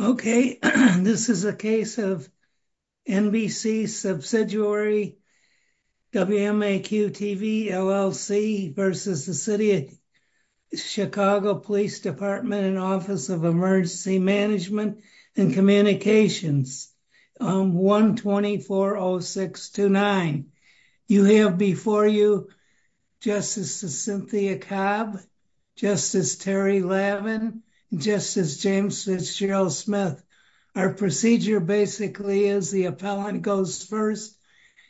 Okay this is a case of NBC Subsidiary WMAQ-TV LLC v. the City of Chicago Police Department and Office of Emergency Management and Communications on 1240629. You have before you Justice Cynthia Cobb, Justice Terry Lavin, Justice James Fitzgerald Smith. Our procedure basically is the appellant goes first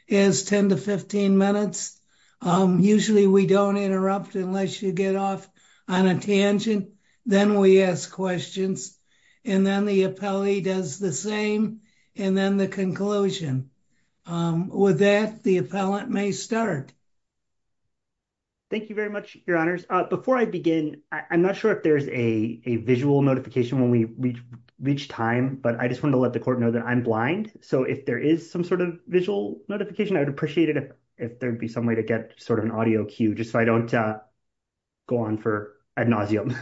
is 10 to 15 minutes. Usually we don't interrupt unless you get off on a tangent then we ask questions and then the appellee does the same and then the conclusion. With that the appellant may start. Thank you very much your honors. Before I begin I'm not sure if there's a visual notification when we reach time but I just want to let the court know that I'm blind so if there is some sort of visual notification I would appreciate it if there'd be some way to get sort of an audio cue just so I don't go on for ad nauseum.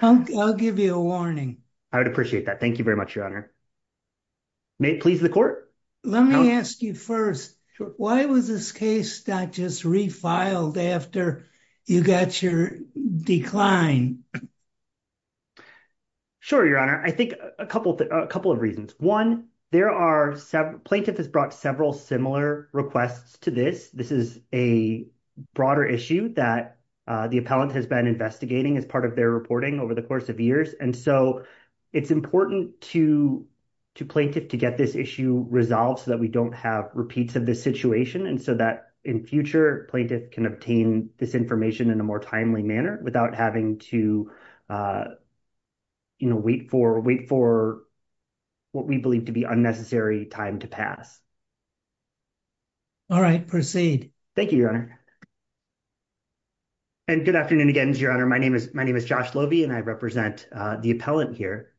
I'll give you a I would appreciate that. Thank you very much your honor. May it please the court? Let me ask you first why was this case not just refiled after you got your decline? Sure your honor. I think a couple of reasons. One there are several plaintiff has brought several similar requests to this. This is a broader issue that the appellant has been investigating as part of their reporting over the course of years and so it's important to to plaintiff to get this issue resolved so that we don't have repeats of this situation and so that in future plaintiff can obtain this information in a more timely manner without having to you know wait for wait for what we believe to be unnecessary time to pass. All right proceed. Thank you your honor. And good afternoon again your honor. My name is my name is Josh Lobey and I represent the appellant here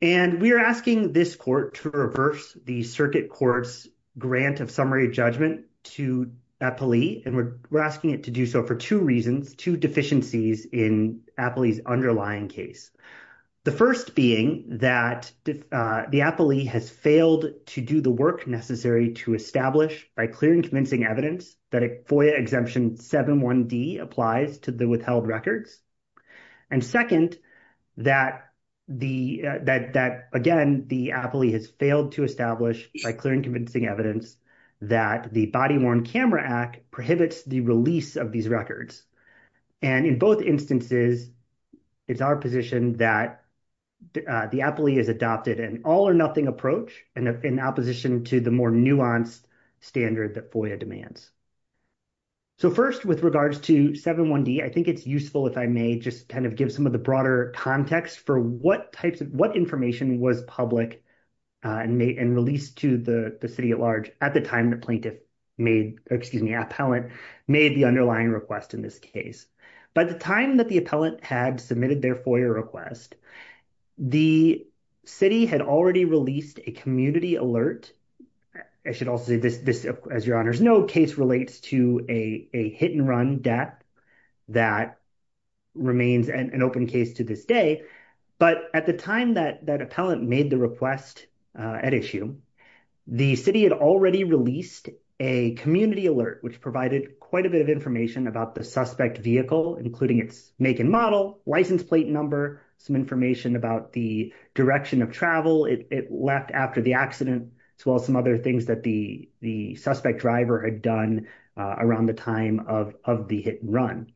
and we are asking this court to reverse the circuit court's grant of summary judgment to Appley and we're asking it to do so for two reasons two deficiencies in Appley's underlying case. The first being that the appellee has failed to do the work necessary to establish by clear and convincing evidence that a FOIA exemption 71d applies to the withheld records and second that the that that again the appellee has failed to establish by clear and convincing evidence that the body-worn camera act prohibits the release of these records and in both instances it's our position that the appellee is adopted an all-or-nothing approach and in opposition to the more nuanced standard that FOIA demands. So first with regards to 71d I think it's useful if I may just kind of give some of the broader context for what types of what information was public and may and released to the the city at large at the time the plaintiff made excuse me made the underlying request in this case. By the time that the appellant had submitted their FOIA request the city had already released a community alert. I should also say this this as your honors know case relates to a a hit and run death that remains an open case to this day but at the time that that appellant made the request at issue the city had already released a community alert which provided quite a bit of information about the suspect vehicle including its make and model license plate number some information about the direction of travel it left after the accident as well as some other things that the the suspect driver had done around the time of of the hit and run.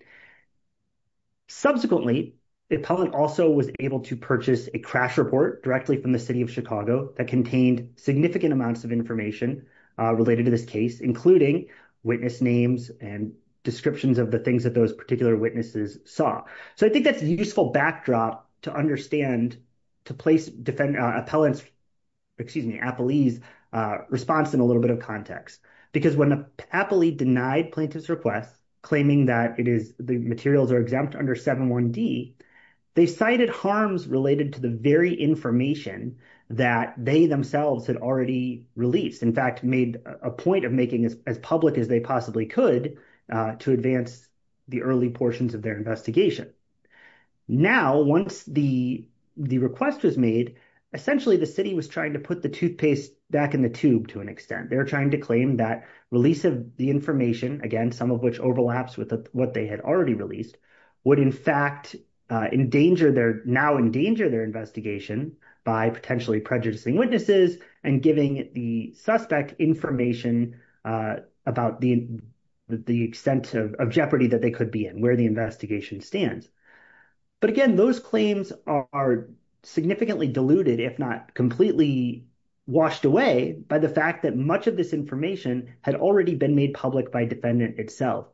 Subsequently the appellant also was able to purchase a crash report directly from the city of Chicago that contained significant amounts of information related to this case including witness names and descriptions of the things that those particular witnesses saw. So I think that's a useful backdrop to understand to place defend appellants excuse me appellees response in a little bit of context because when appellee denied plaintiff's request claiming that it is the materials are exempt under 7.1d they cited harms related to the very information that they themselves had already released in fact made a point of making as public as they possibly could to advance the early portions of their investigation. Now once the the request was made essentially the city was trying to put the toothpaste back in the tube to an extent they were trying to claim that release of the information again some of which overlaps with what they had already released would in fact endanger their now endanger their investigation by potentially prejudicing witnesses and giving the suspect information about the the extent of jeopardy that they could be in where the investigation stands. But again those claims are significantly diluted if not completely washed away by the fact that much of this information had already been made public by defendant itself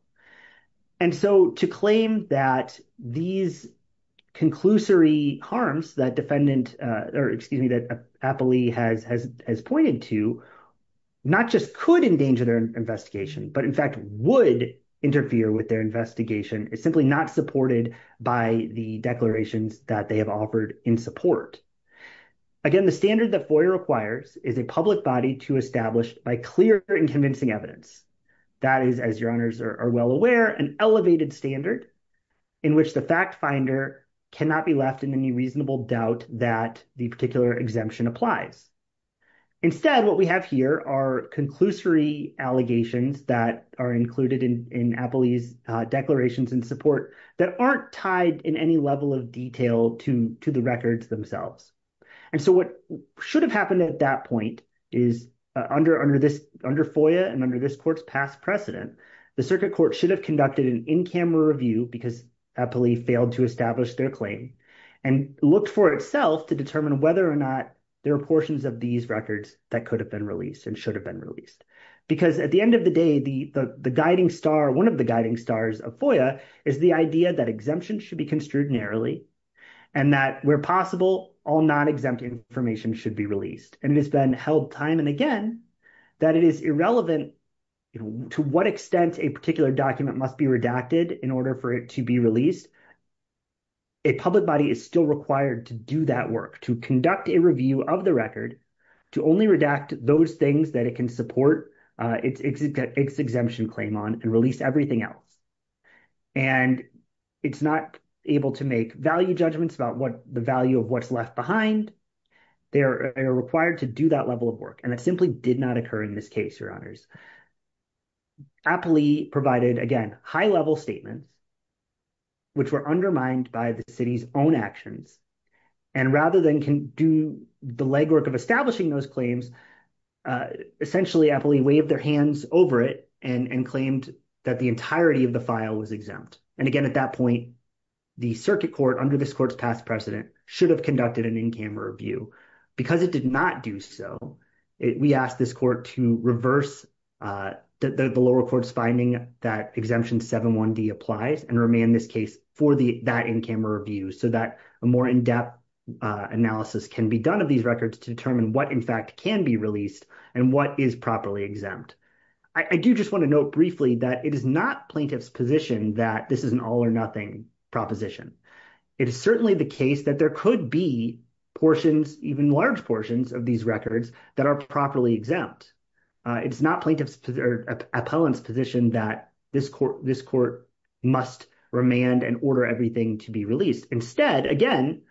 and so to claim that these conclusory harms that defendant or excuse me that appellee has has has pointed to not just could endanger their investigation but in fact would interfere with their investigation is simply not supported by the declarations that they have offered in support. Again the standard that FOIA requires is a public body to establish by clear and convincing evidence that is as your are well aware an elevated standard in which the fact finder cannot be left in any reasonable doubt that the particular exemption applies. Instead what we have here are conclusory allegations that are included in in appellee's declarations and support that aren't tied in any level of detail to to the records themselves and so what should have happened at that point is under under this under FOIA and under this court's past precedent the circuit court should have conducted an in-camera review because appellee failed to establish their claim and looked for itself to determine whether or not there are portions of these records that could have been released and should have been released because at the end of the day the the guiding star one of the guiding stars of FOIA is the idea that exemption should be construed narrowly and that where possible all non-exempt information should be released and it has been held time and again that it is irrelevant to what extent a particular document must be redacted in order for it to be released. A public body is still required to do that work to conduct a review of the record to only redact those things that it can support its exemption claim on and release everything else and it's not able to make value judgments about what the value of what's left behind they are required to do that level of work and it simply did not occur in this case your honors. Appellee provided again high-level statements which were undermined by the city's own actions and rather than can do the legwork of establishing those claims essentially appellee waved their hands over it and and claimed that the entirety of the file was exempt and again at that point the circuit court under this court's past precedent should have conducted an in-camera review because it did not do so we asked this court to reverse the lower court's finding that exemption 7.1d applies and remain this case for the that in-camera review so that a more in-depth analysis can be done of these records to determine what in fact can be released and what is properly exempt. I do just want to note briefly that it is not plaintiff's position that this is an all-or-nothing proposition. It is certainly the case that there could be portions even large portions of these records that are properly exempt. It's not plaintiff's or appellant's position that this court this court must remand and order everything to be released instead again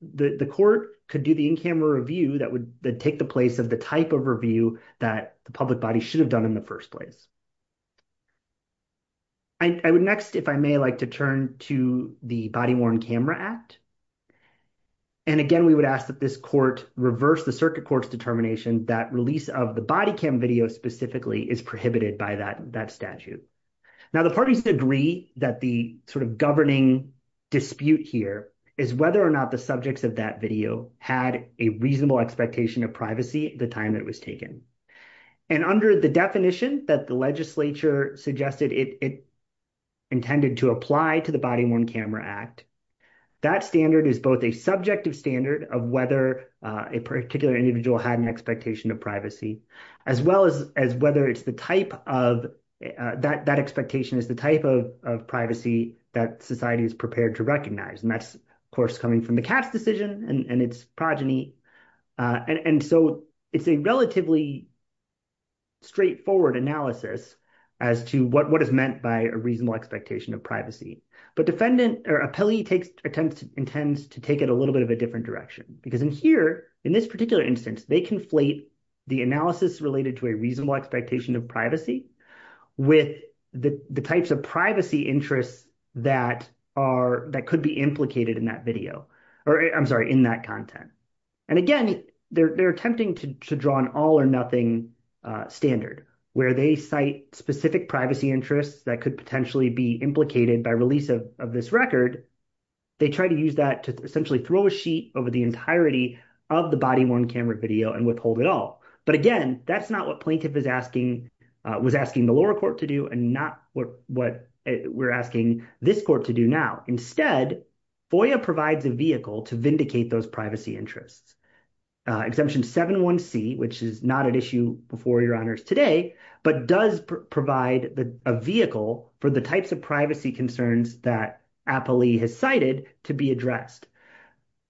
the the court could do the in-camera review that would take the place of the type of review that the public body should have done in the first place. I would next if I may like to turn to the body-worn camera act and again we would ask that this court reverse the circuit court's determination that release of the body cam video specifically is prohibited by that that statute. Now the parties agree that the sort of governing dispute here is whether or not the subjects of that video had a reasonable expectation of privacy the time that was taken and under the definition that the legislature suggested it it intended to apply to the body-worn camera act that standard is both a subjective standard of whether a particular individual had an expectation of privacy as well as as whether it's the type of that that expectation is the type of of privacy that society is prepared to recognize and that's of course coming from the cat's decision and and its progeny and and so it's a relatively straightforward analysis as to what what is meant by a reasonable expectation of privacy but defendant or appellee takes attempts intends to take it a little bit of a different direction because in here in this particular instance they conflate the analysis related to a reasonable expectation of with the the types of privacy interests that are that could be implicated in that video or I'm sorry in that content and again they're attempting to to draw an all or nothing standard where they cite specific privacy interests that could potentially be implicated by release of this record they try to use that to essentially throw a sheet over the entirety of the body-worn camera video and withhold it all but again that's not what plaintiff is asking was asking the lower court to do and not what what we're asking this court to do now instead FOIA provides a vehicle to vindicate those privacy interests uh exemption 7.1c which is not an issue before your honors today but does provide a vehicle for the types of privacy concerns that appellee has cited to be addressed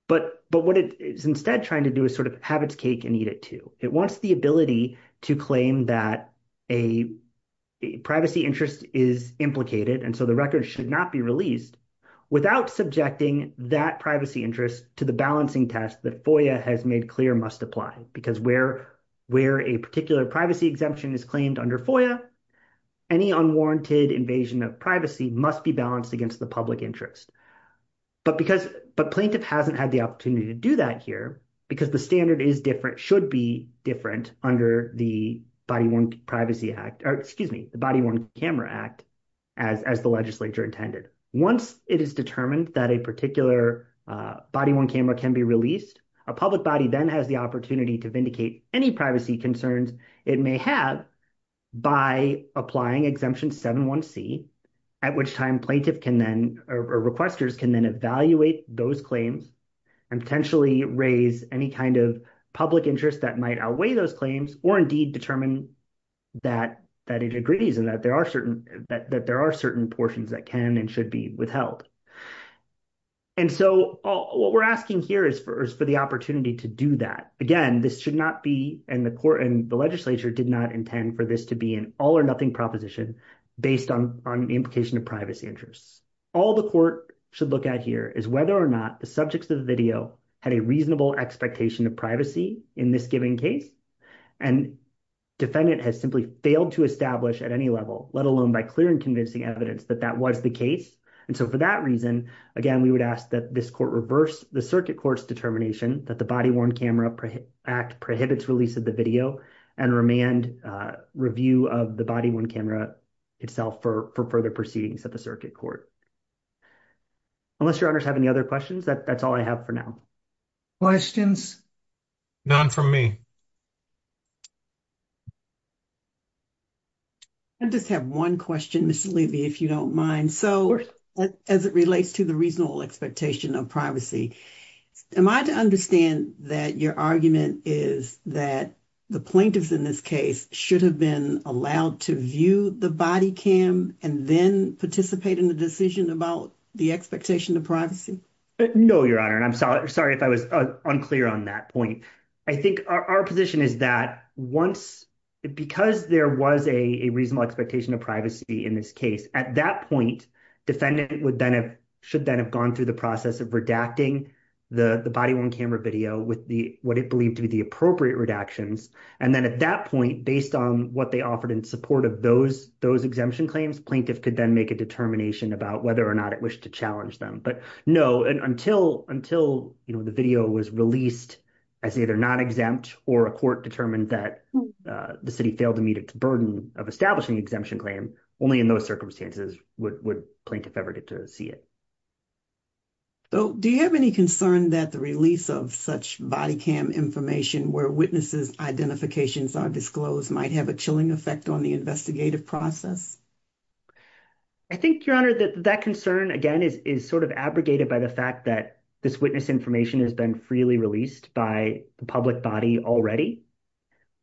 but but what it is instead trying to do is sort of have its that a privacy interest is implicated and so the record should not be released without subjecting that privacy interest to the balancing test that FOIA has made clear must apply because where where a particular privacy exemption is claimed under FOIA any unwarranted invasion of privacy must be balanced against the public interest but because but plaintiff hasn't had the opportunity to do that here because the standard is different should be different under the body-worn privacy act or excuse me the body-worn camera act as as the legislature intended once it is determined that a particular uh body-worn camera can be released a public body then has the opportunity to vindicate any privacy concerns it may have by applying exemption 7.1c at which time plaintiff can then or requesters can then evaluate those claims and potentially raise any kind of public interest that might outweigh those claims or indeed determine that that it agrees and that there are certain that there are certain portions that can and should be withheld and so what we're asking here is for is for the opportunity to do that again this should not be in the court and the legislature did not intend for this to be an all or nothing proposition based on on the implication of privacy interests all the court should look at here is whether or not the subjects of the video had a reasonable expectation of privacy in this given case and defendant has simply failed to establish at any level let alone by clear and convincing evidence that that was the case and so for that reason again we would ask that this court reverse the circuit court's determination that the body-worn camera act prohibits release of the video and review of the body-worn camera itself for further proceedings at the circuit court unless your honors have any other questions that that's all i have for now questions none from me i just have one question miss levy if you don't mind so as it relates to the reasonable should have been allowed to view the body cam and then participate in the decision about the expectation of privacy no your honor and i'm sorry sorry if i was unclear on that point i think our position is that once because there was a a reasonable expectation of privacy in this case at that point defendant would then have should then have gone through the process of redacting the the body-worn camera video with the what it believed to be the appropriate redactions and then at that point based on what they offered in support of those those exemption claims plaintiff could then make a determination about whether or not it wished to challenge them but no and until until you know the video was released as either not exempt or a court determined that the city failed to meet its burden of establishing exemption claim only in those circumstances would plaintiff ever get to see it so do you have any concern that the release of such body cam information where witnesses identifications are disclosed might have a chilling effect on the investigative process i think your honor that that concern again is is sort of abrogated by the fact that this witness information has been freely released by the public body already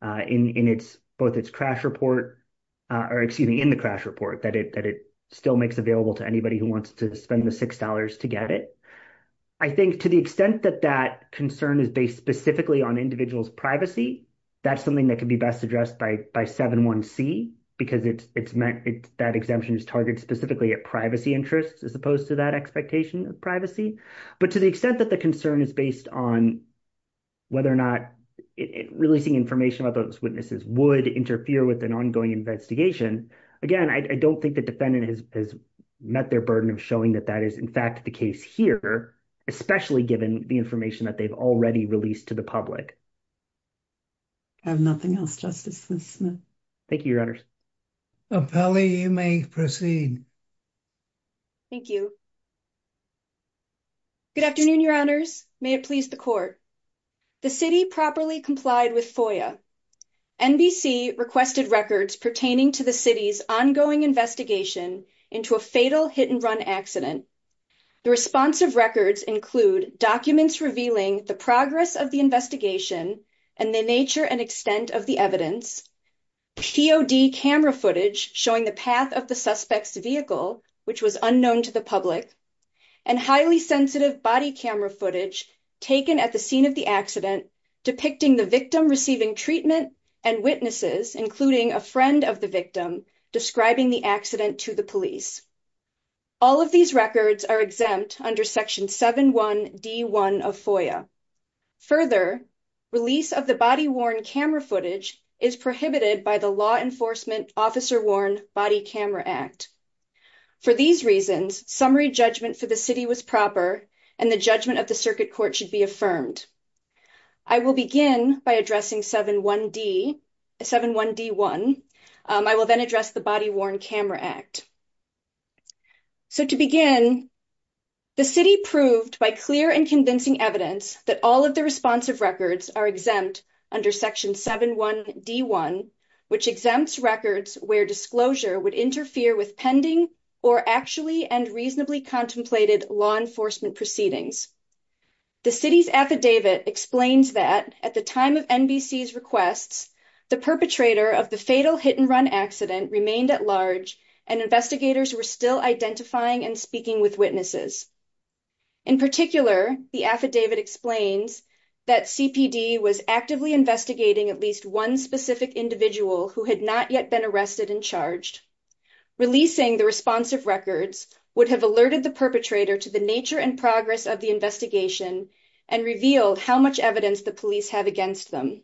uh in in its both its crash report uh or excuse me in the crash report that it that it still makes available to anybody who wants to spend the six dollars to get it i think to the extent that that concern is based specifically on individuals privacy that's something that can be best addressed by by 7-1-c because it's it's meant that exemption is targeted specifically at privacy interests as opposed to that expectation of privacy but to the extent that the concern is based on whether or not releasing information about those witnesses would interfere with an ongoing investigation again i don't think the defendant has met their burden of showing that that is in fact the case here especially given the information that they've already released to the public i have nothing else justice smith thank you your honors appellee you may proceed thank you good afternoon your honors may it please the court the city properly complied with foia nbc requested records pertaining to the city's ongoing investigation into a fatal hit and run accident the responsive records include documents revealing the progress of the investigation and the nature and extent of the evidence pod camera footage showing the path of the suspect's vehicle which was unknown to the public and highly sensitive body camera footage taken at the scene of the accident depicting the victim receiving treatment and witnesses including a friend of the victim describing the accident to the police all of these records are exempt under section 7-1-d-1 of foia further release of the body worn camera footage is prohibited by the law enforcement officer worn body camera act for these reasons summary judgment for the city was proper and the judgment of the circuit court should be affirmed i will begin by addressing 7-1-d 7-1-d-1 i will then address the body worn camera act so to begin the city proved by clear and convincing evidence that all of the responsive records are exempt under section 7-1-d-1 which exempts records where disclosure would interfere with pending or actually and reasonably contemplated law enforcement proceedings the city's affidavit explains that at the time of nbc's requests the perpetrator of the fatal hit and run accident remained at large and investigators were still identifying and speaking with witnesses in particular the affidavit explains that cpd was actively investigating at least one specific individual who had not yet been arrested and releasing the responsive records would have alerted the perpetrator to the nature and progress of the investigation and reveal how much evidence the police have against them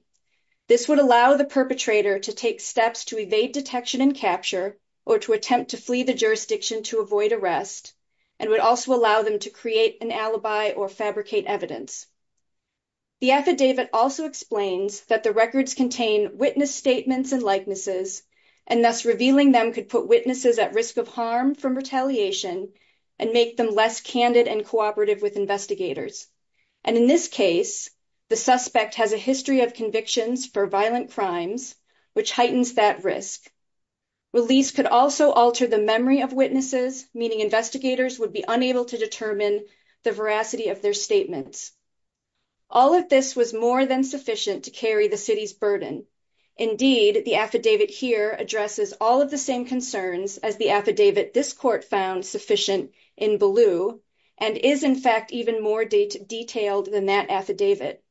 this would allow the perpetrator to take steps to evade detection and capture or to attempt to flee the jurisdiction to avoid arrest and would also allow them to create an alibi or fabricate evidence the affidavit also explains that the records contain witness statements and likenesses and thus revealing them could put witnesses at risk of harm from retaliation and make them less candid and cooperative with investigators and in this case the suspect has a history of convictions for violent crimes which heightens that risk release could also alter the memory of witnesses meaning investigators would be unable to determine the veracity of their statements all of this was more than sufficient to carry the city's burden indeed the affidavit here addresses all of the same concerns as the affidavit this court found sufficient in blue and is in fact even more detailed than that affidavit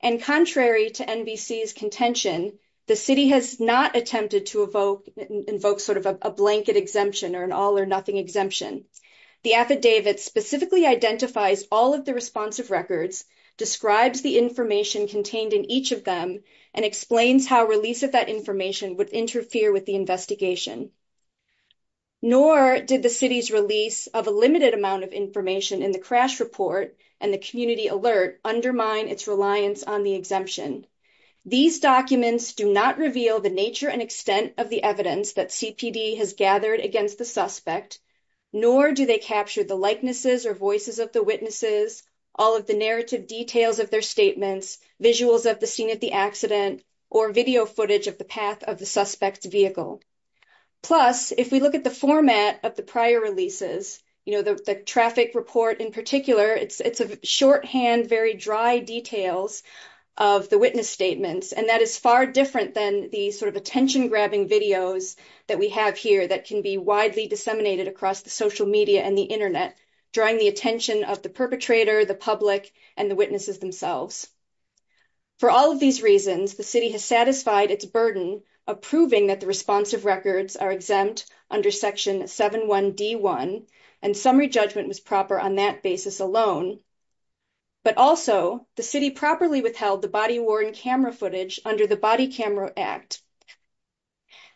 and contrary to nbc's contention the city has not attempted to evoke invoke sort of a blanket exemption or an all or nothing exemption the affidavit specifically identifies all of the responsive records describes the information contained in each of them and explains how release of that information would interfere with the investigation nor did the city's release of a limited amount of information in the crash report and the community alert undermine its reliance on the exemption these documents do not reveal the nature and extent of the evidence that cpd has gathered against the suspect nor do they capture the likenesses or voices of the witnesses all of the narrative details of their statements visuals of the scene of the accident or video footage of the path of the suspect's vehicle plus if we look at the format of the prior releases you know the traffic report in particular it's it's a shorthand very dry details of the witness statements and that is far different than the sort of attention grabbing videos that we have here that can be widely disseminated across the social media and the internet drawing the attention of the perpetrator the public and the witnesses themselves for all of these reasons the city has satisfied its burden of proving that the responsive records are exempt under section 7 1 d 1 and summary judgment was proper on that basis alone but also the city properly withheld the body worn camera footage under the body camera act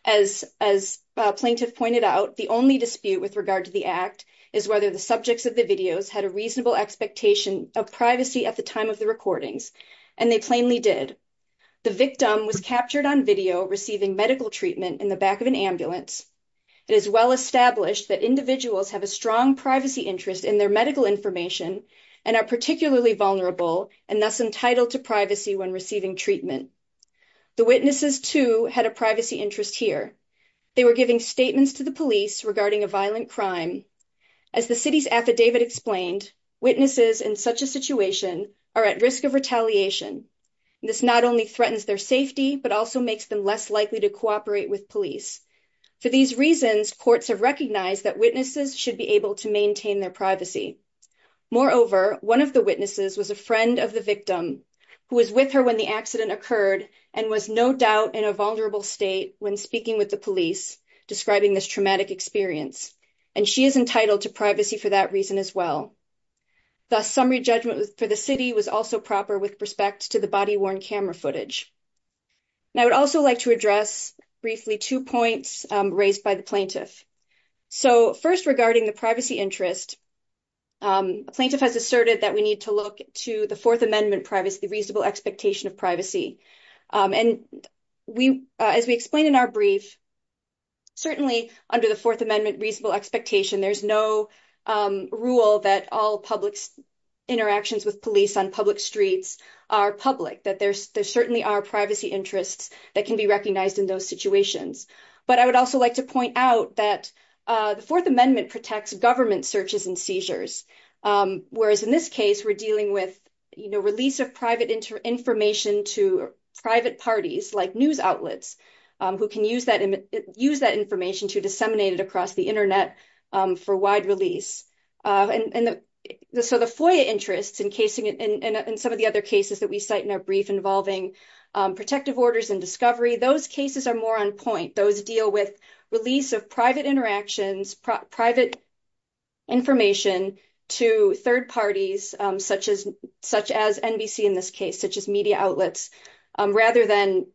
as as plaintiff pointed out the only dispute with regard to the act is whether the subjects of the videos had a reasonable expectation of privacy at the time of the recordings and they plainly did the victim was captured on video receiving medical treatment in the back of an ambulance it is well established that individuals have a strong privacy interest in their medical information and are particularly vulnerable and thus entitled to privacy when receiving treatment the witnesses too had a privacy interest here they were giving statements to the police regarding a violent crime as the city's affidavit explained witnesses in such a situation are at risk of retaliation this not only threatens their safety but also makes them less likely to cooperate with police for these reasons courts have recognized that witnesses should be able to maintain their privacy moreover one of the witnesses was a friend of the victim who was with her when the accident occurred and was no doubt in a vulnerable state when speaking with the police describing this traumatic experience and she is entitled to privacy for that reason as well thus summary judgment for the city was also proper with respect to the body worn camera footage i would also like to address briefly two points raised by the plaintiff so first regarding the privacy interest um a plaintiff has asserted that we need to look to the fourth amendment privacy reasonable expectation of privacy and we as we explain in our brief certainly under the fourth amendment reasonable expectation there's no rule that all public interactions with police on public streets are public that there's there certainly are privacy interests that can be recognized in those situations but i would also like to point out that the fourth amendment protects government searches and seizures whereas in this case we're dealing with you know release of private information to private parties like news outlets who can use that and use that information to disseminate it across the internet for wide release and and the so the foyer interests encasing in some of the other cases that we cite in our brief involving protective orders and discovery those cases are more on point those deal with release of private interactions private information to third parties such as such as nbc in this case such as media outlets um rather than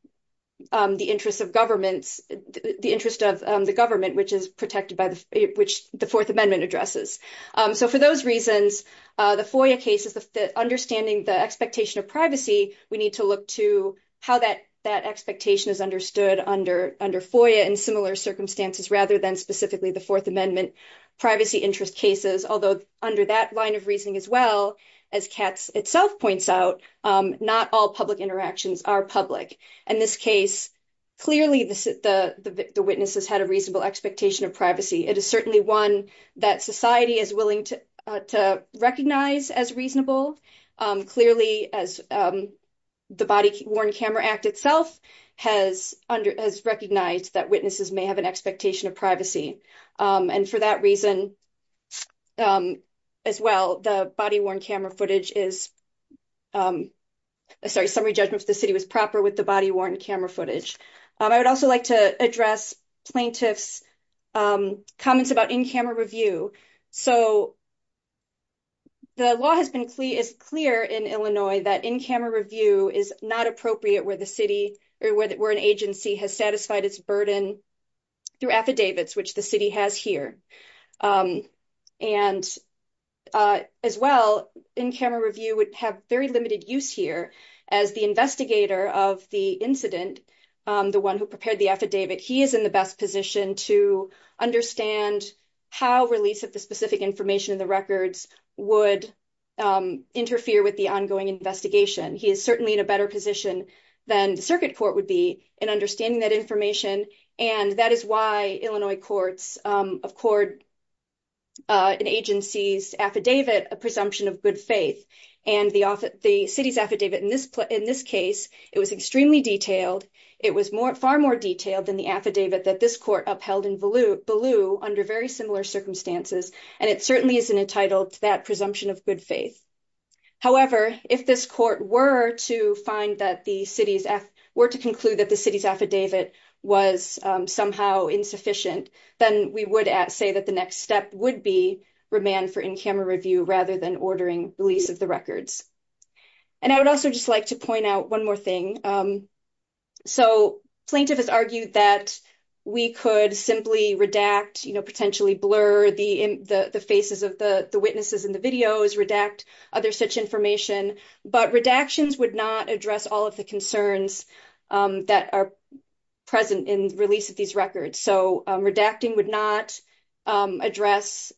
um the interest of governments the interest of the government which is protected by the which the fourth amendment addresses um so for those reasons uh the foyer cases the understanding the expectation of privacy we need to look to how that that expectation is understood under under foyer in similar circumstances rather than specifically the fourth amendment privacy interest cases although under that line of reasoning as well as cats itself points out um not all public interactions are public in this case clearly the the witnesses had a reasonable expectation of privacy it is the body worn camera act itself has under has recognized that witnesses may have an expectation of privacy um and for that reason um as well the body worn camera footage is um sorry summary judgments the city was proper with the body worn camera footage um i would also like to address plaintiffs um comments about in-camera review so the law has been clear is clear in illinois that in-camera review is not appropriate where the city or where an agency has satisfied its burden through affidavits which the city has here and uh as well in-camera review would have very limited use here as the investigator of the incident um the one who prepared the affidavit he is in the best position to understand how release of the specific information in the records would um interfere with the ongoing investigation he is certainly in a better position than the circuit court would be in understanding that information and that is why illinois courts um of cord uh an agency's affidavit a presumption of good faith and the office the city's affidavit in this in this case it was extremely detailed it was more more detailed than the affidavit that this court upheld in baloo baloo under very similar circumstances and it certainly isn't entitled to that presumption of good faith however if this court were to find that the city's f were to conclude that the city's affidavit was um somehow insufficient then we would say that the next step would be remand for in-camera review rather than ordering release of the records and i would also just like to point out one more thing um so plaintiff has argued that we could simply redact you know potentially blur the in the the faces of the the witnesses in the videos redact other such information but redactions would not address all of the concerns um that are present in release of these records so um redacting would not um address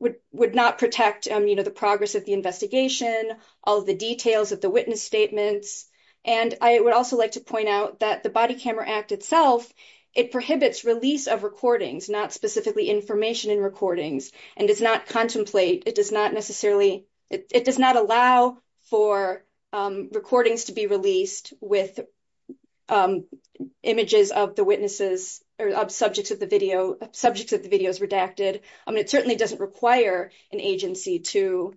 would would not protect um you know the progress of the investigation all the details of the witness statements and i would also like to point out that the body camera act itself it prohibits release of recordings not specifically information in recordings and does not contemplate it does not necessarily it does not allow for um recordings to be released with um images of the witnesses or subjects of the video subjects of the videos i mean it certainly doesn't require an agency to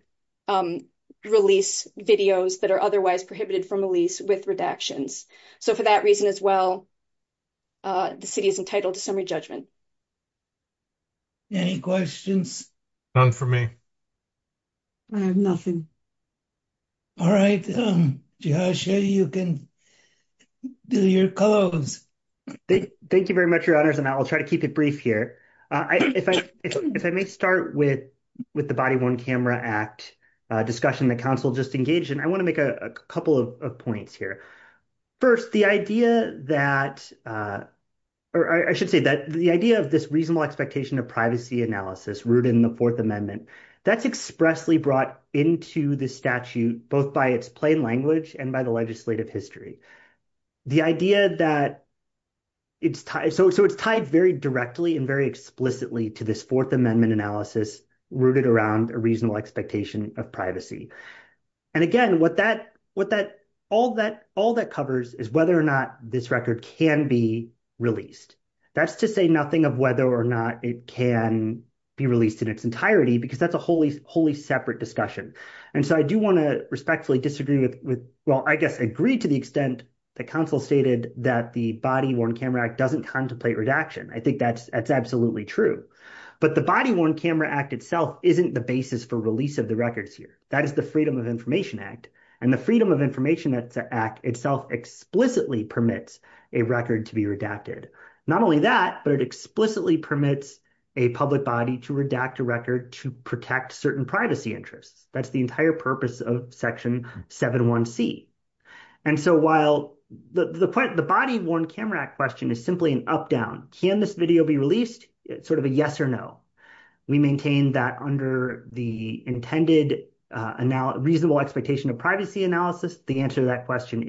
um release videos that are otherwise prohibited from release with redactions so for that reason as well uh the city is entitled to summary judgment any questions none for me i have nothing all right um joshua you can do your clothes thank you very much your honors and i'll try to keep it brief here uh if i if i may start with with the body one camera act uh discussion the council just engaged and i want to make a couple of points here first the idea that uh or i should say that the idea of this reasonable expectation of privacy analysis rooted in the fourth amendment that's expressly brought into this statute both by its plain language and by the legislative history the idea that it's tied so so it's tied very directly and very explicitly to this fourth amendment analysis rooted around a reasonable expectation of privacy and again what that what that all that all that covers is whether or not this record can be released that's to say nothing of whether or not it can be released in its entirety because that's a wholly wholly separate discussion and so i do want to respectfully disagree with with well i guess agree to the extent the council stated that the body worn camera act doesn't contemplate redaction i think that's that's absolutely true but the body worn camera act itself isn't the basis for release of the records here that is the freedom of information act and the freedom of information that's an act itself explicitly permits a record to be redacted not only that but it explicitly permits a public body to redact a record to protect certain privacy interests that's the entire purpose of section 7 1 c and so while the the point the body worn camera question is simply an up-down can this video be released it's sort of a yes or no we maintain that under the intended uh now reasonable expectation of privacy analysis the answer to that question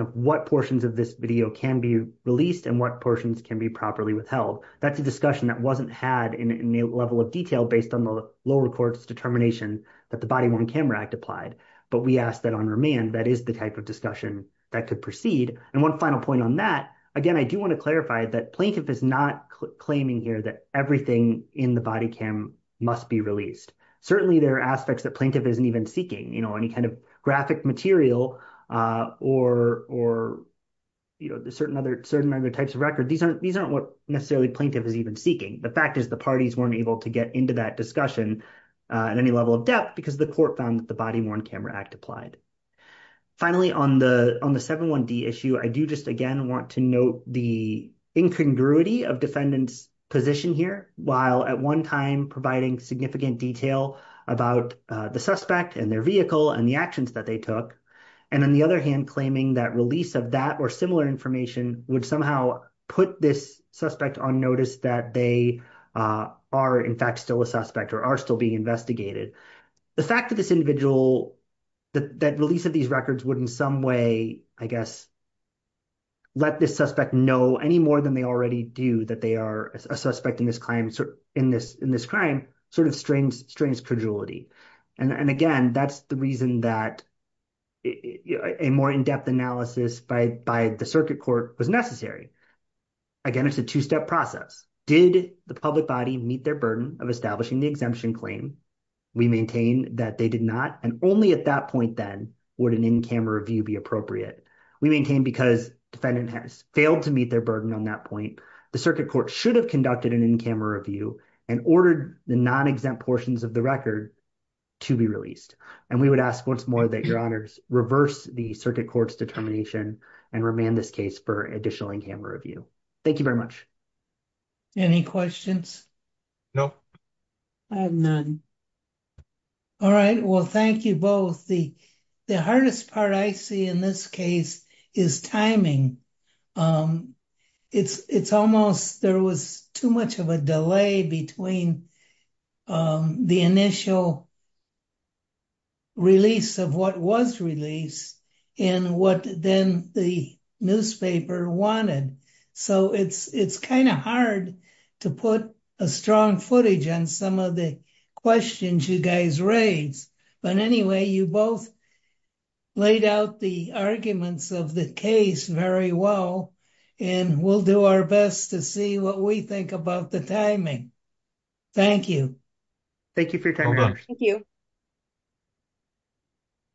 of what portions of this video can be released and what portions can be properly withheld that's a discussion that wasn't had in a level of detail based on the low records determination that the body worn camera act applied but we ask that on remand that is the type of discussion that could proceed and one final point on that again i do want to clarify that plaintiff is not claiming here that everything in the body cam must be released certainly there are aspects that plaintiff isn't even seeking you know any kind of graphic material uh or or you know the certain other certain other types of record these aren't these aren't what necessarily plaintiff is even seeking the fact is the parties weren't able to get into that discussion uh at any level of depth because the court found that the body worn camera act applied finally on the on the 7 1 d issue i do just again want to note the incongruity of defendant's position here while at one time providing significant detail about uh the suspect and their vehicle and the actions that they took and on the other hand claiming that release of that or similar information would somehow put this suspect on notice that they uh are in fact still a suspect or are still being investigated the fact that this individual that release of these records would in some way i guess let this suspect know any more than they already do that they are a suspect in this claim in this in this crime sort of strains strains credulity and and again that's the reason that a more in-depth analysis by by the circuit court was necessary again it's a two-step process did the public body meet their burden of establishing the exemption claim we maintain that they did not and only at that point then would an in-camera review be appropriate we maintain because defendant has failed to meet their burden on that point the circuit court should have conducted an in-camera review and ordered the non-exempt portions of the record to be released and we would ask once more that your honors reverse the circuit court's determination and remand this case for additional in-camera review thank you very much any questions no i have none all right well thank you both the the hardest part i see in this case is timing um it's it's almost there was too much of a delay between um the initial release of what was released and what then the newspaper wanted so it's it's kind of hard to put a strong footage on some of the questions you guys raised but anyway you both laid out the arguments of the case very well and we'll do our best to see what we think about the timing thank you thank you for your time thank you